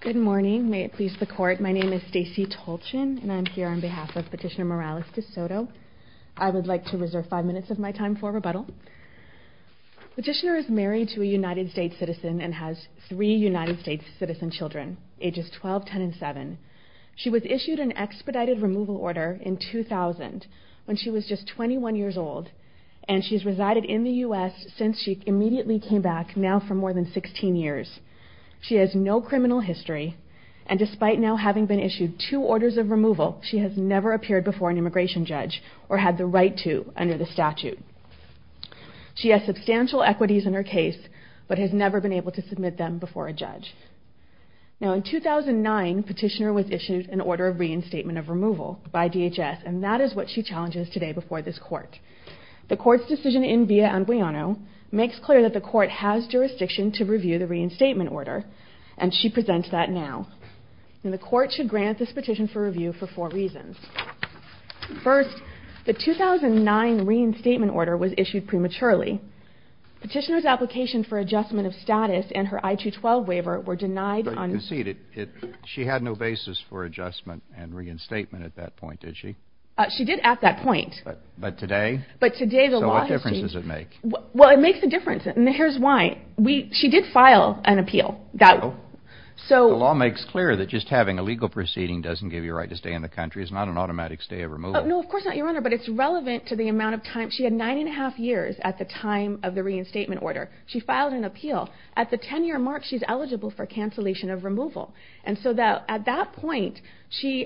Good morning. May it please the court, my name is Stacey Tolchin and I'm here on behalf of Petitioner Morales de Soto. I would like to reserve five minutes of my time for rebuttal. Petitioner is married to a United States citizen and has three United States citizen children ages 12, 10, and 7. She was issued an expedited removal order in 2000 when she was just 21 years old and she has resided in the U.S. since she immediately came back now for more than 16 years. She has no criminal history and despite now having been issued two orders of removal she has never appeared before an immigration judge or had the right to under the statute. She has substantial equities in her case but has never been able to submit them before a judge. Now in 2009 Petitioner was issued an order of reinstatement of removal by DHS and that is what she challenges today before this court. The court's decision in via unguiano makes clear that the court has jurisdiction to review the reinstatement order and she presents that now. And the court should grant this petition for review for four reasons. First, the 2009 reinstatement order was issued prematurely. Petitioner's application for adjustment of status and her I-212 waiver were denied on... She had no basis for adjustment and reinstatement at that point, did she? She did at that point. But today? But today the law has changed. So what difference does it make? Well, it makes a difference and here's why. She did file an appeal. The law makes clear that just having a legal proceeding doesn't give you a right to stay in the country. It's not an automatic stay of removal. No, of course not, Your Honor, but it's relevant to the amount of time. She had nine and a half years at the time of the reinstatement order. She filed an appeal. At the ten year mark, she's eligible for cancellation of removal. And so at that point,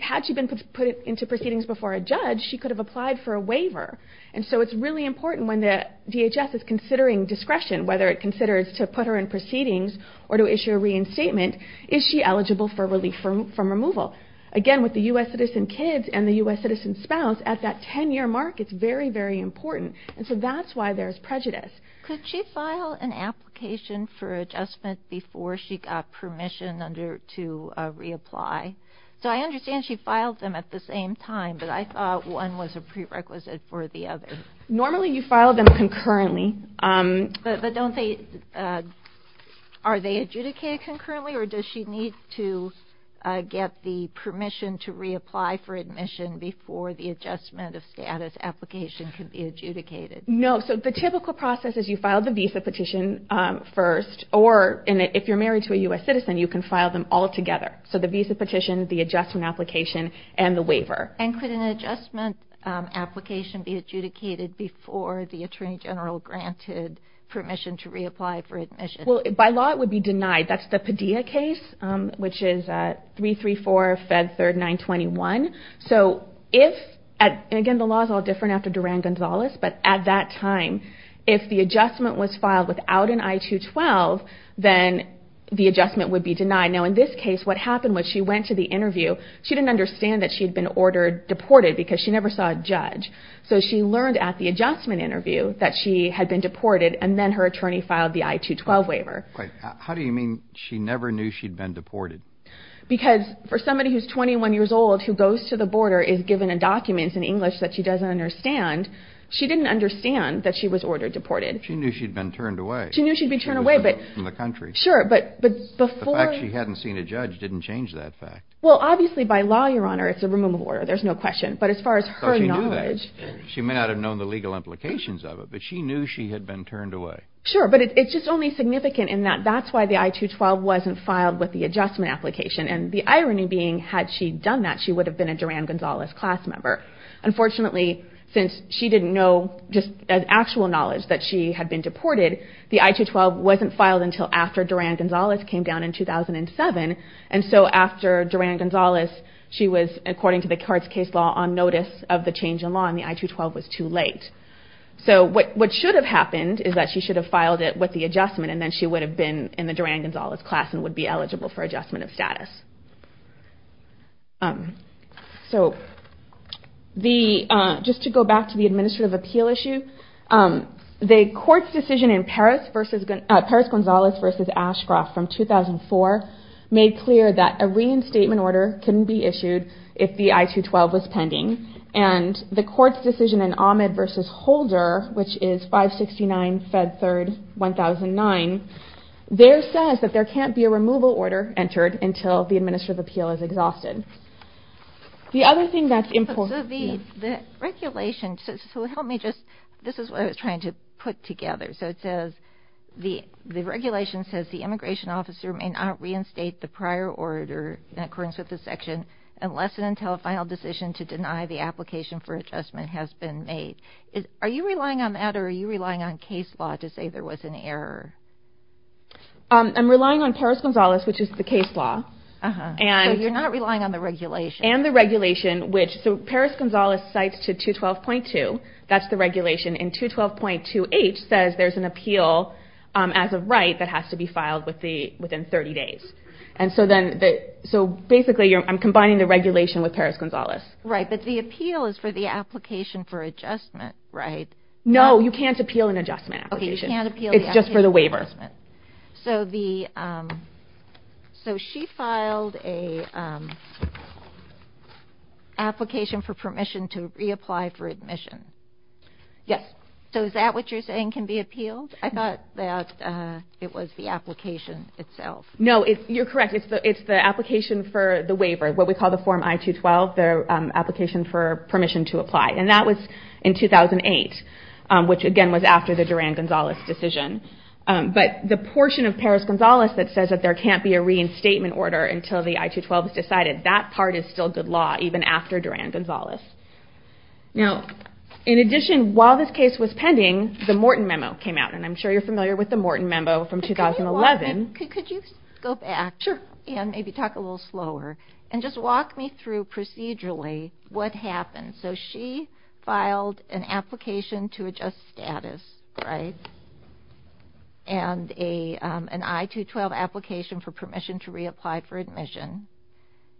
had she been put into proceedings before a judge, she could have applied for a waiver. And so it's really important when the DHS is considering discretion, whether it considers to put her in proceedings or to issue a reinstatement, is she eligible for relief from removal? Again, with the U.S. Citizen kids and the U.S. Citizen spouse, at that ten year mark, it's very, very important. And so that's why there's prejudice. Could she file an application for adjustment before she got permission to reapply? So I understand she filed them at the same time, but I thought one was a prerequisite for the other. Normally you file them concurrently. But don't they, are they adjudicated concurrently or does she need to get the permission to reapply for admission before the adjustment of status application can be adjudicated? No. So the typical process is you file the visa petition first or if you're married to a U.S. Citizen, you can file them all together. So the visa petition, the adjustment application and the waiver. And could an adjustment application be adjudicated before the Attorney General granted permission to reapply for admission? Well, by law it would be denied. That's the Padilla case, which is 334-Fed-3-921. So if, and again the law is all different after Duran-Gonzalez, but at that time if the adjustment was filed without an I-212, then the adjustment would be denied. Now in this case what happened was she went to the interview, she didn't understand that she had been ordered, deported because she never saw a judge. So she learned at the adjustment interview that she had been deported and then her attorney filed the I-212 waiver. How do you mean she never knew she'd been deported? Because for somebody who's 21 years old who goes to the border and is given a document in English that she doesn't understand, she didn't understand that she was ordered, deported. She knew she'd been turned away. She knew she'd be turned away, but... She knew that from the country. Sure, but before... The fact she hadn't seen a judge didn't change that fact. Well obviously by law, Your Honor, it's a removal order, there's no question. But as far as her knowledge... But she knew that. She may not have known the legal implications of it, but she knew she had been turned away. Sure, but it's just only significant in that that's why the I-212 wasn't filed with the adjustment application. And the irony being, had she done that, she would have been a Duran-Gonzalez class member. Unfortunately, since she didn't know, just as actual knowledge, that she had been deported, the I-212 wasn't filed until after Duran-Gonzalez came down in 2007. And so after Duran-Gonzalez, she was, according to the Carts case law, on notice of the change in law and the I-212 was too late. So what should have happened is that she should have filed it with the adjustment and then she would have been in the Duran-Gonzalez class and would be eligible for adjustment of status. So just to go back to the administrative appeal issue, the court's decision in Paris-Gonzalez versus Ashcroft from 2004 made clear that a reinstatement order couldn't be issued if the I-212 was pending. And the court's decision in Ahmed versus Holder, which is 569-Fed3-1009, there says that there can't be a removal order entered until the administrative appeal is exhausted. The other thing that's important... So the regulation... so help me just... this is what I was trying to put together. So it says, the regulation says the immigration officer may not reinstate the prior order in occurrence with the section unless and until a final decision to deny the application for adjustment has been made. Are you relying on that or are you relying on case law to say there was an error? I'm relying on Paris-Gonzalez, which is the case law. So you're not relying on the regulation? And the regulation, which... so Paris-Gonzalez cites to 212.2. That's the regulation. And 212.2H says there's an appeal as of right that has to be filed within 30 days. And so then... so basically, I'm combining the regulation with Paris-Gonzalez. Right, but the appeal is for the application for adjustment, right? No, you can't appeal an adjustment application. Okay, you can't appeal the adjustment. It's just for the waiver. So the... so she filed an application for permission to reapply for admission. Yes. So is that what you're saying can be appealed? I thought that it was the application itself. No, you're correct. It's the application for the waiver, what we call the Form I-212, the application for permission to apply. And that was in 2008, which again was after the Duran-Gonzalez decision. But the portion of Paris-Gonzalez that says that there can't be a reinstatement order until the I-212 is decided, that part is still good law even after Duran-Gonzalez. Now in addition, while this case was pending, the Morton Memo came out, and I'm sure you're familiar with the Morton Memo from 2011. Could you go back and maybe talk a little slower and just walk me through procedurally what happened? So she filed an application to adjust status, right, and an I-212 application for permission to reapply for admission,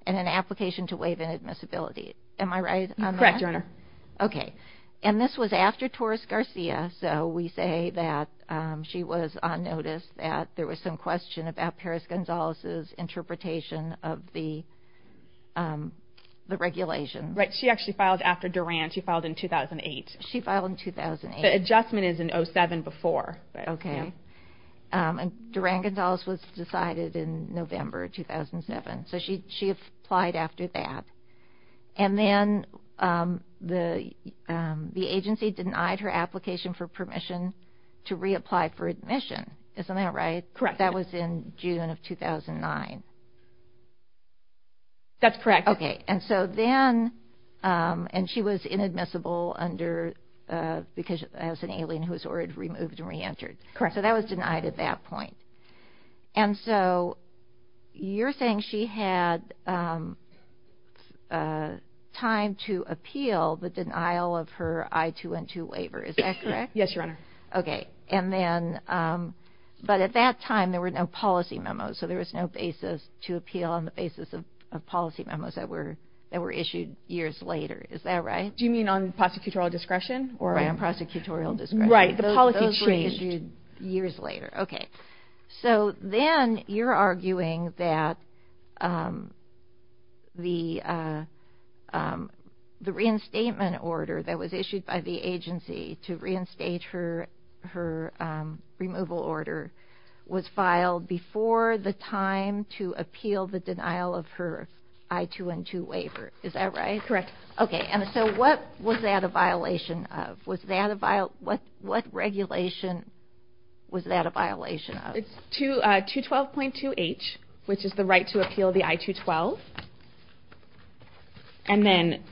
and an application to waive inadmissibility. Am I right? Correct, Your Honor. Okay. And this was after Torres-Garcia, so we say that she was on notice that there was some question about Paris-Gonzalez's interpretation of the regulation. Right. She actually filed after Duran. She filed in 2008. She filed in 2008. The adjustment is in 07 before, but yeah. Okay. And Duran-Gonzalez was decided in November 2007, so she applied after that. And then the agency denied her application for permission to reapply for admission. Isn't that right? Correct. That was in June of 2009. That's correct. Okay. And so then, and she was inadmissible under, because she was an alien who was already removed and reentered. Correct. So that was denied at that point. And so you're saying she had time to appeal the denial of her I-212 waiver, is that correct? Yes, Your Honor. Okay. And then, but at that time, there were no policy memos, so there was no basis to appeal on the basis of policy memos that were issued years later. Is that right? Do you mean on prosecutorial discretion? Or on prosecutorial discretion? Right. The policy changed. Those were issued years later. Okay. So then you're arguing that the reinstatement order that was issued by the agency to reinstate her removal order was filed before the time to appeal the denial of her I-212 waiver. Is that right? Correct. Okay. And so what was that a violation of? Was that a violation, what regulation was that a violation of? It's 212.2H, which is the right to appeal the I-212. And then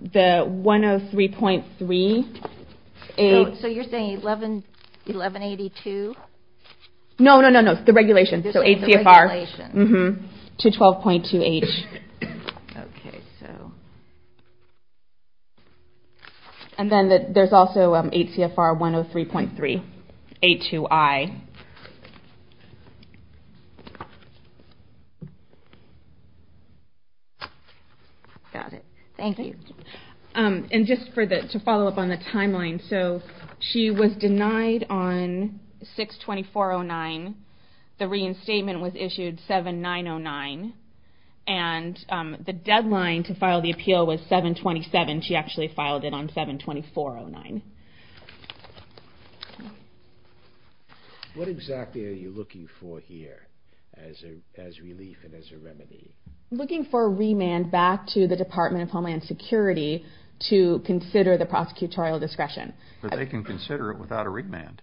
the 103.3... So you're saying 1182? No, no, no, no. The regulation. So 8 CFR. You're saying the regulation. Mm-hmm. To 12.2H. Okay. So... And then there's also 8 CFR 103.3A2I. Got it. Thank you. And just to follow up on the timeline, so she was denied on 6-2409. The reinstatement was issued 7-909. And the deadline to file the appeal was 7-27. She actually filed it on 7-2409. What exactly are you looking for here as relief and as a remedy? We're looking for a remand back to the Department of Homeland Security to consider the prosecutorial discretion. But they can consider it without a remand.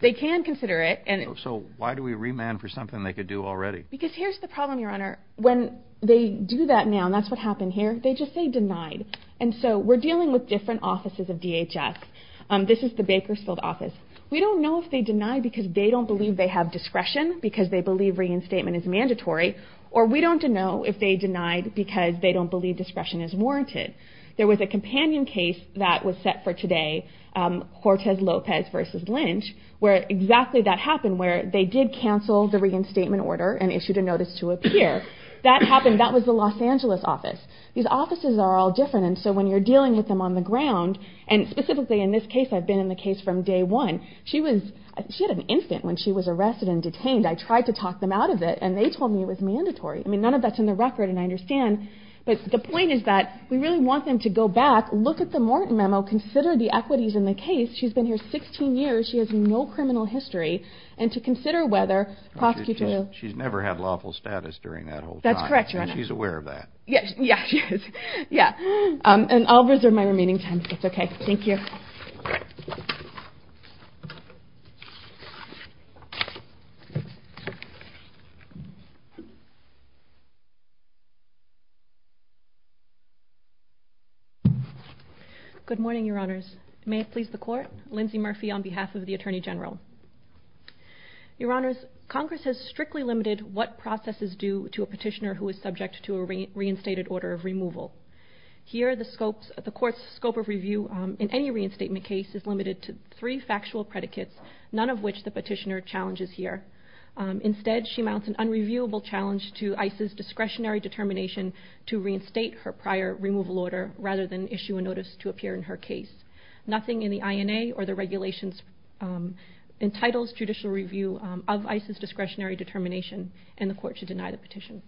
They can consider it. So why do we remand for something they could do already? Because here's the problem, Your Honor. When they do that now, and that's what happened here, they just say denied. And so we're dealing with different offices of DHS. This is the Bakersfield office. We don't know if they deny because they don't believe they have discretion because they believe reinstatement is mandatory, or we don't know if they denied because they don't believe discretion is warranted. There was a companion case that was set for today, Hortez Lopez v. Lynch, where exactly that happened, where they did cancel the reinstatement order and issued a notice to appear. That happened. That was the Los Angeles office. These offices are all different. And so when you're dealing with them on the ground, and specifically in this case, I've been in the case from day one, she had an infant when she was arrested and detained. I tried to talk them out of it. And they told me it was mandatory. I mean, none of that's in the record, and I understand. But the point is that we really want them to go back, look at the Morton memo, consider the equities in the case. She's been here 16 years. She has no criminal history. And to consider whether prosecutorial – She's never had lawful status during that whole time. That's correct, Your Honor. And she's aware of that. Yeah, she is. Yeah. And I'll reserve my remaining time if that's okay. Thank you. Good morning, Your Honors. May it please the Court. Lindsay Murphy on behalf of the Attorney General. Your Honors, Congress has strictly limited what process is due to a petitioner who is subject to a reinstated order of removal. Here, the Court's scope of review in any reinstatement case is limited to three factual predicates, none of which the petitioner challenges here. Instead, she mounts an unreviewed petition and a reviewable challenge to ICE's discretionary determination to reinstate her prior removal order rather than issue a notice to appear in her case. Nothing in the INA or the regulations entitles judicial review of ICE's discretionary determination, and the Court should deny the petition.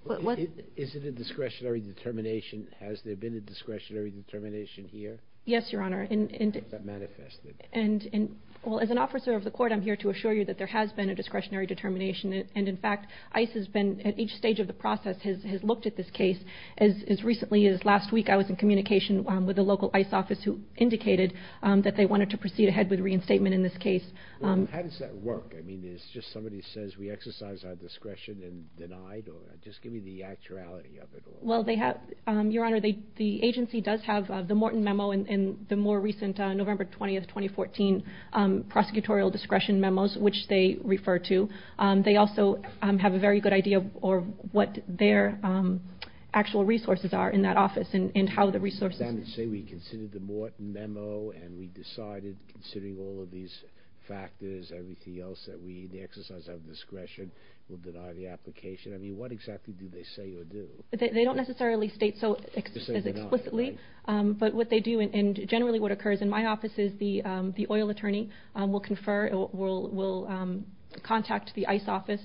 Is it a discretionary determination? Has there been a discretionary determination here? Yes, Your Honor. Or has that manifested? Well, as an officer of the Court, I'm here to assure you that there has been a discretionary determination, and in fact, ICE has been, at each stage of the process, has looked at this case. As recently as last week, I was in communication with the local ICE office who indicated that they wanted to proceed ahead with reinstatement in this case. Well, how does that work? I mean, is it just somebody says, we exercise our discretion and deny it, or just give me the actuality of it? Well, Your Honor, the agency does have the Morton Memo and the more recent November 20, 2014, prosecutorial discretion memos, which they refer to. They also have a very good idea of what their actual resources are in that office and how the resources... Does that say we considered the Morton Memo and we decided, considering all of these factors, everything else that we exercise our discretion, we'll deny the application? I mean, what exactly do they say or do? They don't necessarily state so explicitly. But what they do, and generally what occurs in my office is the oil attorney will confer, will contact the ICE office,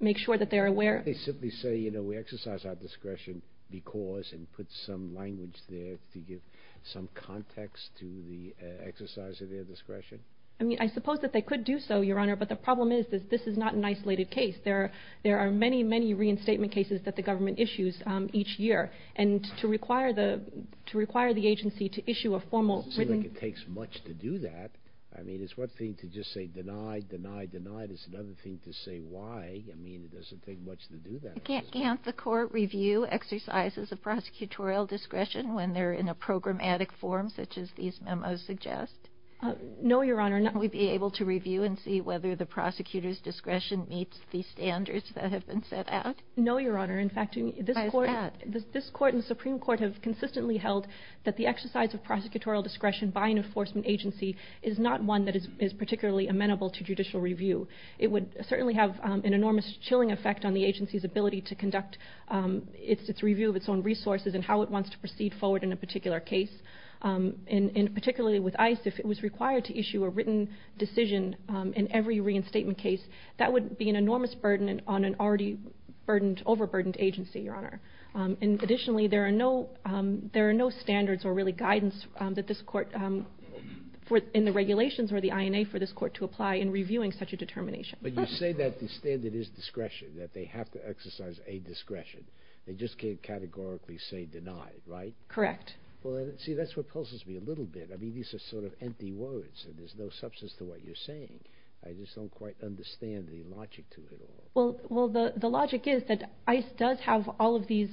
make sure that they're aware... They simply say, you know, we exercise our discretion because, and put some language there to give some context to the exercise of their discretion? I mean, I suppose that they could do so, Your Honor, but the problem is that this is not an isolated case. There are many, many reinstatement cases that the government issues each year. And to require the agency to issue a formal written... It seems like it takes much to do that. I mean, it's one thing to just say deny, deny, deny. It's another thing to say why. I mean, it doesn't take much to do that. Can't the court review exercises of prosecutorial discretion when they're in a programmatic form, such as these memos suggest? No, Your Honor. Can we be able to review and see whether the prosecutor's discretion meets the standards that have been set out? No, Your Honor. In fact... Why is that? This court and the Supreme Court have consistently held that the exercise of prosecutorial discretion by an enforcement agency is not one that is particularly amenable to judicial review. It would certainly have an enormous chilling effect on the agency's ability to conduct its review of its own resources and how it wants to proceed forward in a particular case. And particularly with ICE, if it was required to issue a written decision in every reinstatement case, that would be an enormous burden on an already overburdened agency, Your Honor. Additionally, there are no standards or really guidance in the regulations or the INA for this court to apply in reviewing such a determination. But you say that the standard is discretion, that they have to exercise a discretion. They just can't categorically say denied, right? Correct. See, that's what pulses me a little bit. I mean, these are sort of empty words, and there's no substance to what you're saying. I just don't quite understand the logic to it at all. Well, the logic is that ICE does have all of these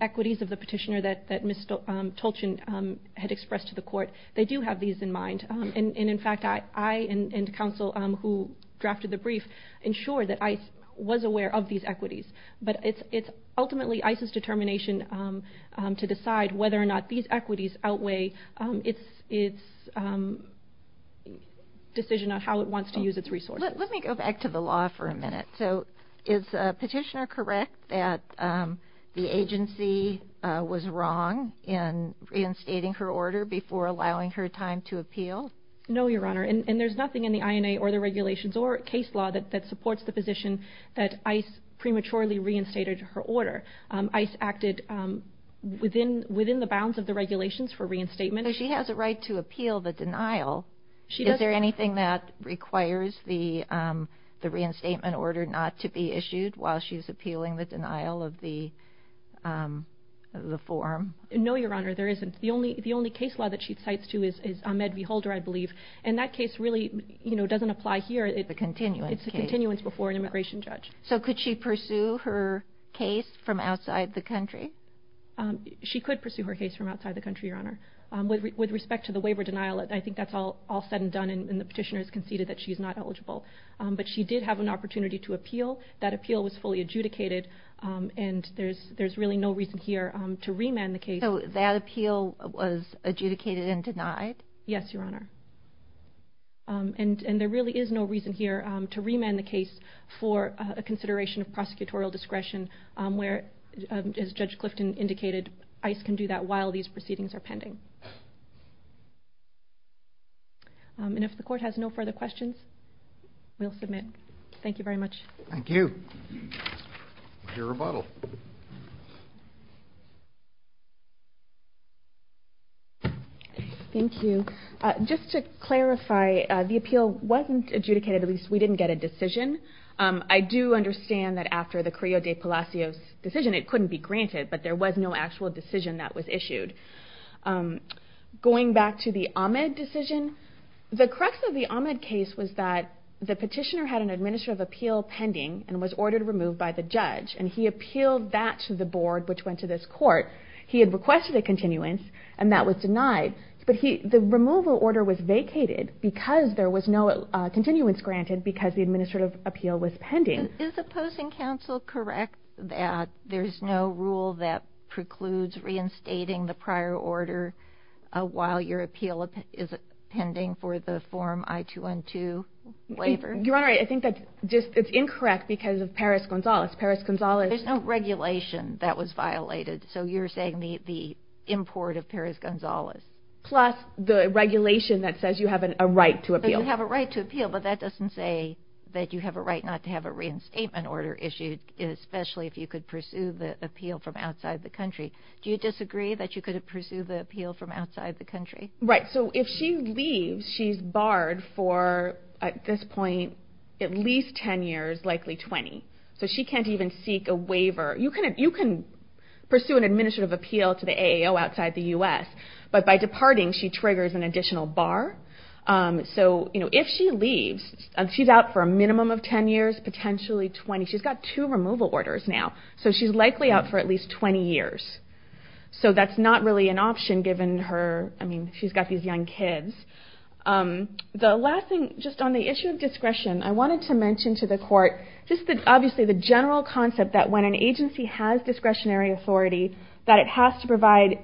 equities of the petitioner that Ms. Tolchin had expressed to the court. They do have these in mind. And in fact, I and counsel who drafted the brief ensured that ICE was aware of these equities. But it's ultimately ICE's determination to decide whether or not these equities outweigh its decision on how it wants to use its resources. Let me go back to the law for a minute. So is the petitioner correct that the agency was wrong in reinstating her order before allowing her time to appeal? No, Your Honor, and there's nothing in the INA or the regulations or case law that supports the position that ICE prematurely reinstated her order. ICE acted within the bounds of the regulations for reinstatement. So she has a right to appeal the denial. Is there anything that requires the reinstatement order not to be issued while she's appealing the denial of the form? No, Your Honor, there isn't. The only case law that she cites to is Ahmed v. Holder, I believe. And that case really doesn't apply here. It's a continuance case. It's a continuance before an immigration judge. So could she pursue her case from outside the country? She could pursue her case from outside the country, Your Honor. With respect to the waiver denial, I think that's all said and done, and the petitioner has conceded that she's not eligible. But she did have an opportunity to appeal. That appeal was fully adjudicated, and there's really no reason here to remand the case. So that appeal was adjudicated and denied? Yes, Your Honor. And there really is no reason here to remand the case for a consideration of prosecutorial discretion, where, as Judge Clifton indicated, ICE can do that while these proceedings are pending. And if the Court has no further questions, we'll submit. Thank you very much. Thank you. Your rebuttal. Thank you. Just to clarify, the appeal wasn't adjudicated. At least, we didn't get a decision. I do understand that after the Carrillo de Palacios decision, it couldn't be granted, but there was no actual decision that was issued. Going back to the Ahmed decision, the crux of the Ahmed case was that the petitioner had an administrative appeal pending and was ordered removed by the judge, and he appealed that to the Board, which went to this Court. He had requested a continuance, and that was denied. But the removal order was vacated because there was no continuance granted because the administrative appeal was pending. Is opposing counsel correct that there's no rule that precludes reinstating the prior order while your appeal is pending for the Form I-212 waiver? Your Honor, I think that it's incorrect because of Perez-Gonzalez. Perez-Gonzalez... There's no regulation that was violated, so you're saying the import of Perez-Gonzalez. Plus the regulation that says you have a right to appeal. You have a right to appeal, but that doesn't say that you have a right not to have a reinstatement order issued, especially if you could pursue the appeal from outside the country. Do you disagree that you could pursue the appeal from outside the country? Right. So if she leaves, she's barred for, at this point, at least 10 years, likely 20. So she can't even seek a waiver. You can pursue an administrative appeal to the AAO outside the U.S., but by departing, she triggers an additional bar. So if she leaves, she's out for a minimum of 10 years, potentially 20. She's got two removal orders now, so she's likely out for at least 20 years. So that's not really an option given her... I mean, she's got these young kids. The last thing, just on the issue of discretion, I wanted to mention to the Court just obviously the general concept that when an agency has discretionary authority, that it has to provide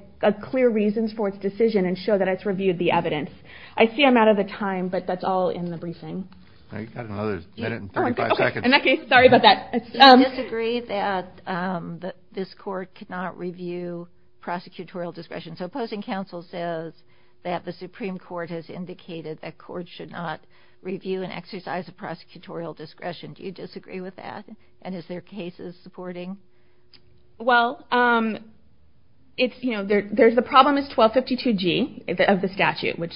clear reasons for its decision and show that it's reviewed the evidence. I see I'm out of the time, but that's all in the briefing. You've got another minute and 35 seconds. Okay, sorry about that. Do you disagree that this Court cannot review prosecutorial discretion? So opposing counsel says that the Supreme Court has indicated that courts should not review and exercise a prosecutorial discretion. Do you disagree with that? And is there cases supporting? Well, the problem is 1252G of the statute, which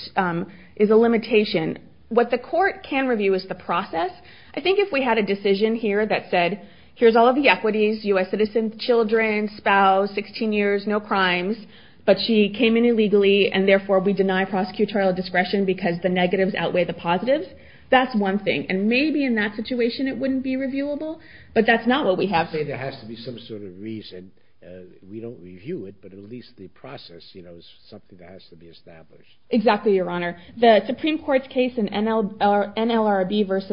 is a limitation. What the Court can review is the process. I think if we had a decision here that said, here's all of the equities, U.S. citizens, children, spouse, 16 years, no crimes, but she came in illegally and therefore we deny prosecutorial discretion because the negatives outweigh the positives, that's one thing. And maybe in that situation it wouldn't be reviewable, but that's not what we have... I'm not saying there has to be some sort of reason. We don't review it, but at least the process, you know, is something that has to be established. Exactly, Your Honor. The Supreme Court's case in NLRB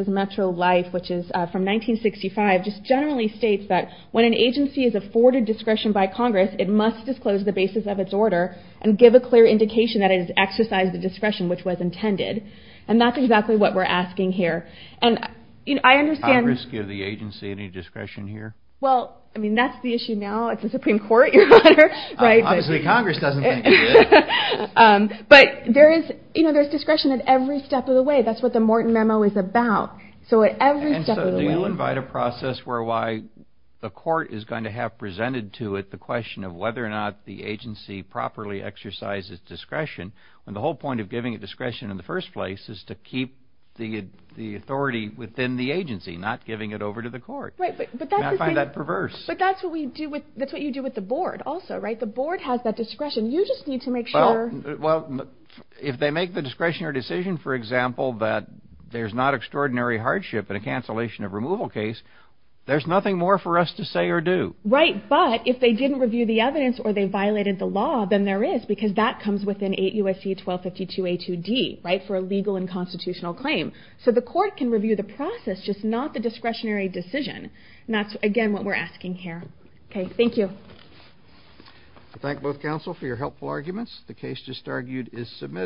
v. Metro Life, which is from 1965, just generally states that when an agency is afforded discretion by Congress, it must disclose the basis of its order and give a clear indication that it has exercised the discretion which was intended. And that's exactly what we're asking here. And I understand... I don't see any discretion here. Well, I mean, that's the issue now. It's the Supreme Court, Your Honor. Obviously Congress doesn't think it is. But there is, you know, there's discretion at every step of the way. That's what the Morton Memo is about. So at every step of the way... And so do you invite a process where why the court is going to have presented to it the question of whether or not the agency properly exercises discretion, when the whole point of giving it discretion in the first place is to keep the authority within the agency, not giving it over to the court. Right, but that's... And I find that perverse. But that's what we do with... That's what you do with the board also, right? The board has that discretion. You just need to make sure... Well, if they make the discretionary decision, for example, that there's not extraordinary hardship in a cancellation of removal case, there's nothing more for us to say or do. Right, but if they didn't review the evidence or they violated the law, then there is, because that comes within 8 U.S.C. 1252 A.2.D., right, for a legal and constitutional claim. So the court can review the process, just not the discretionary decision. And that's, again, what we're asking here. Okay, thank you. I thank both counsel for your helpful arguments. The case just argued is submitted.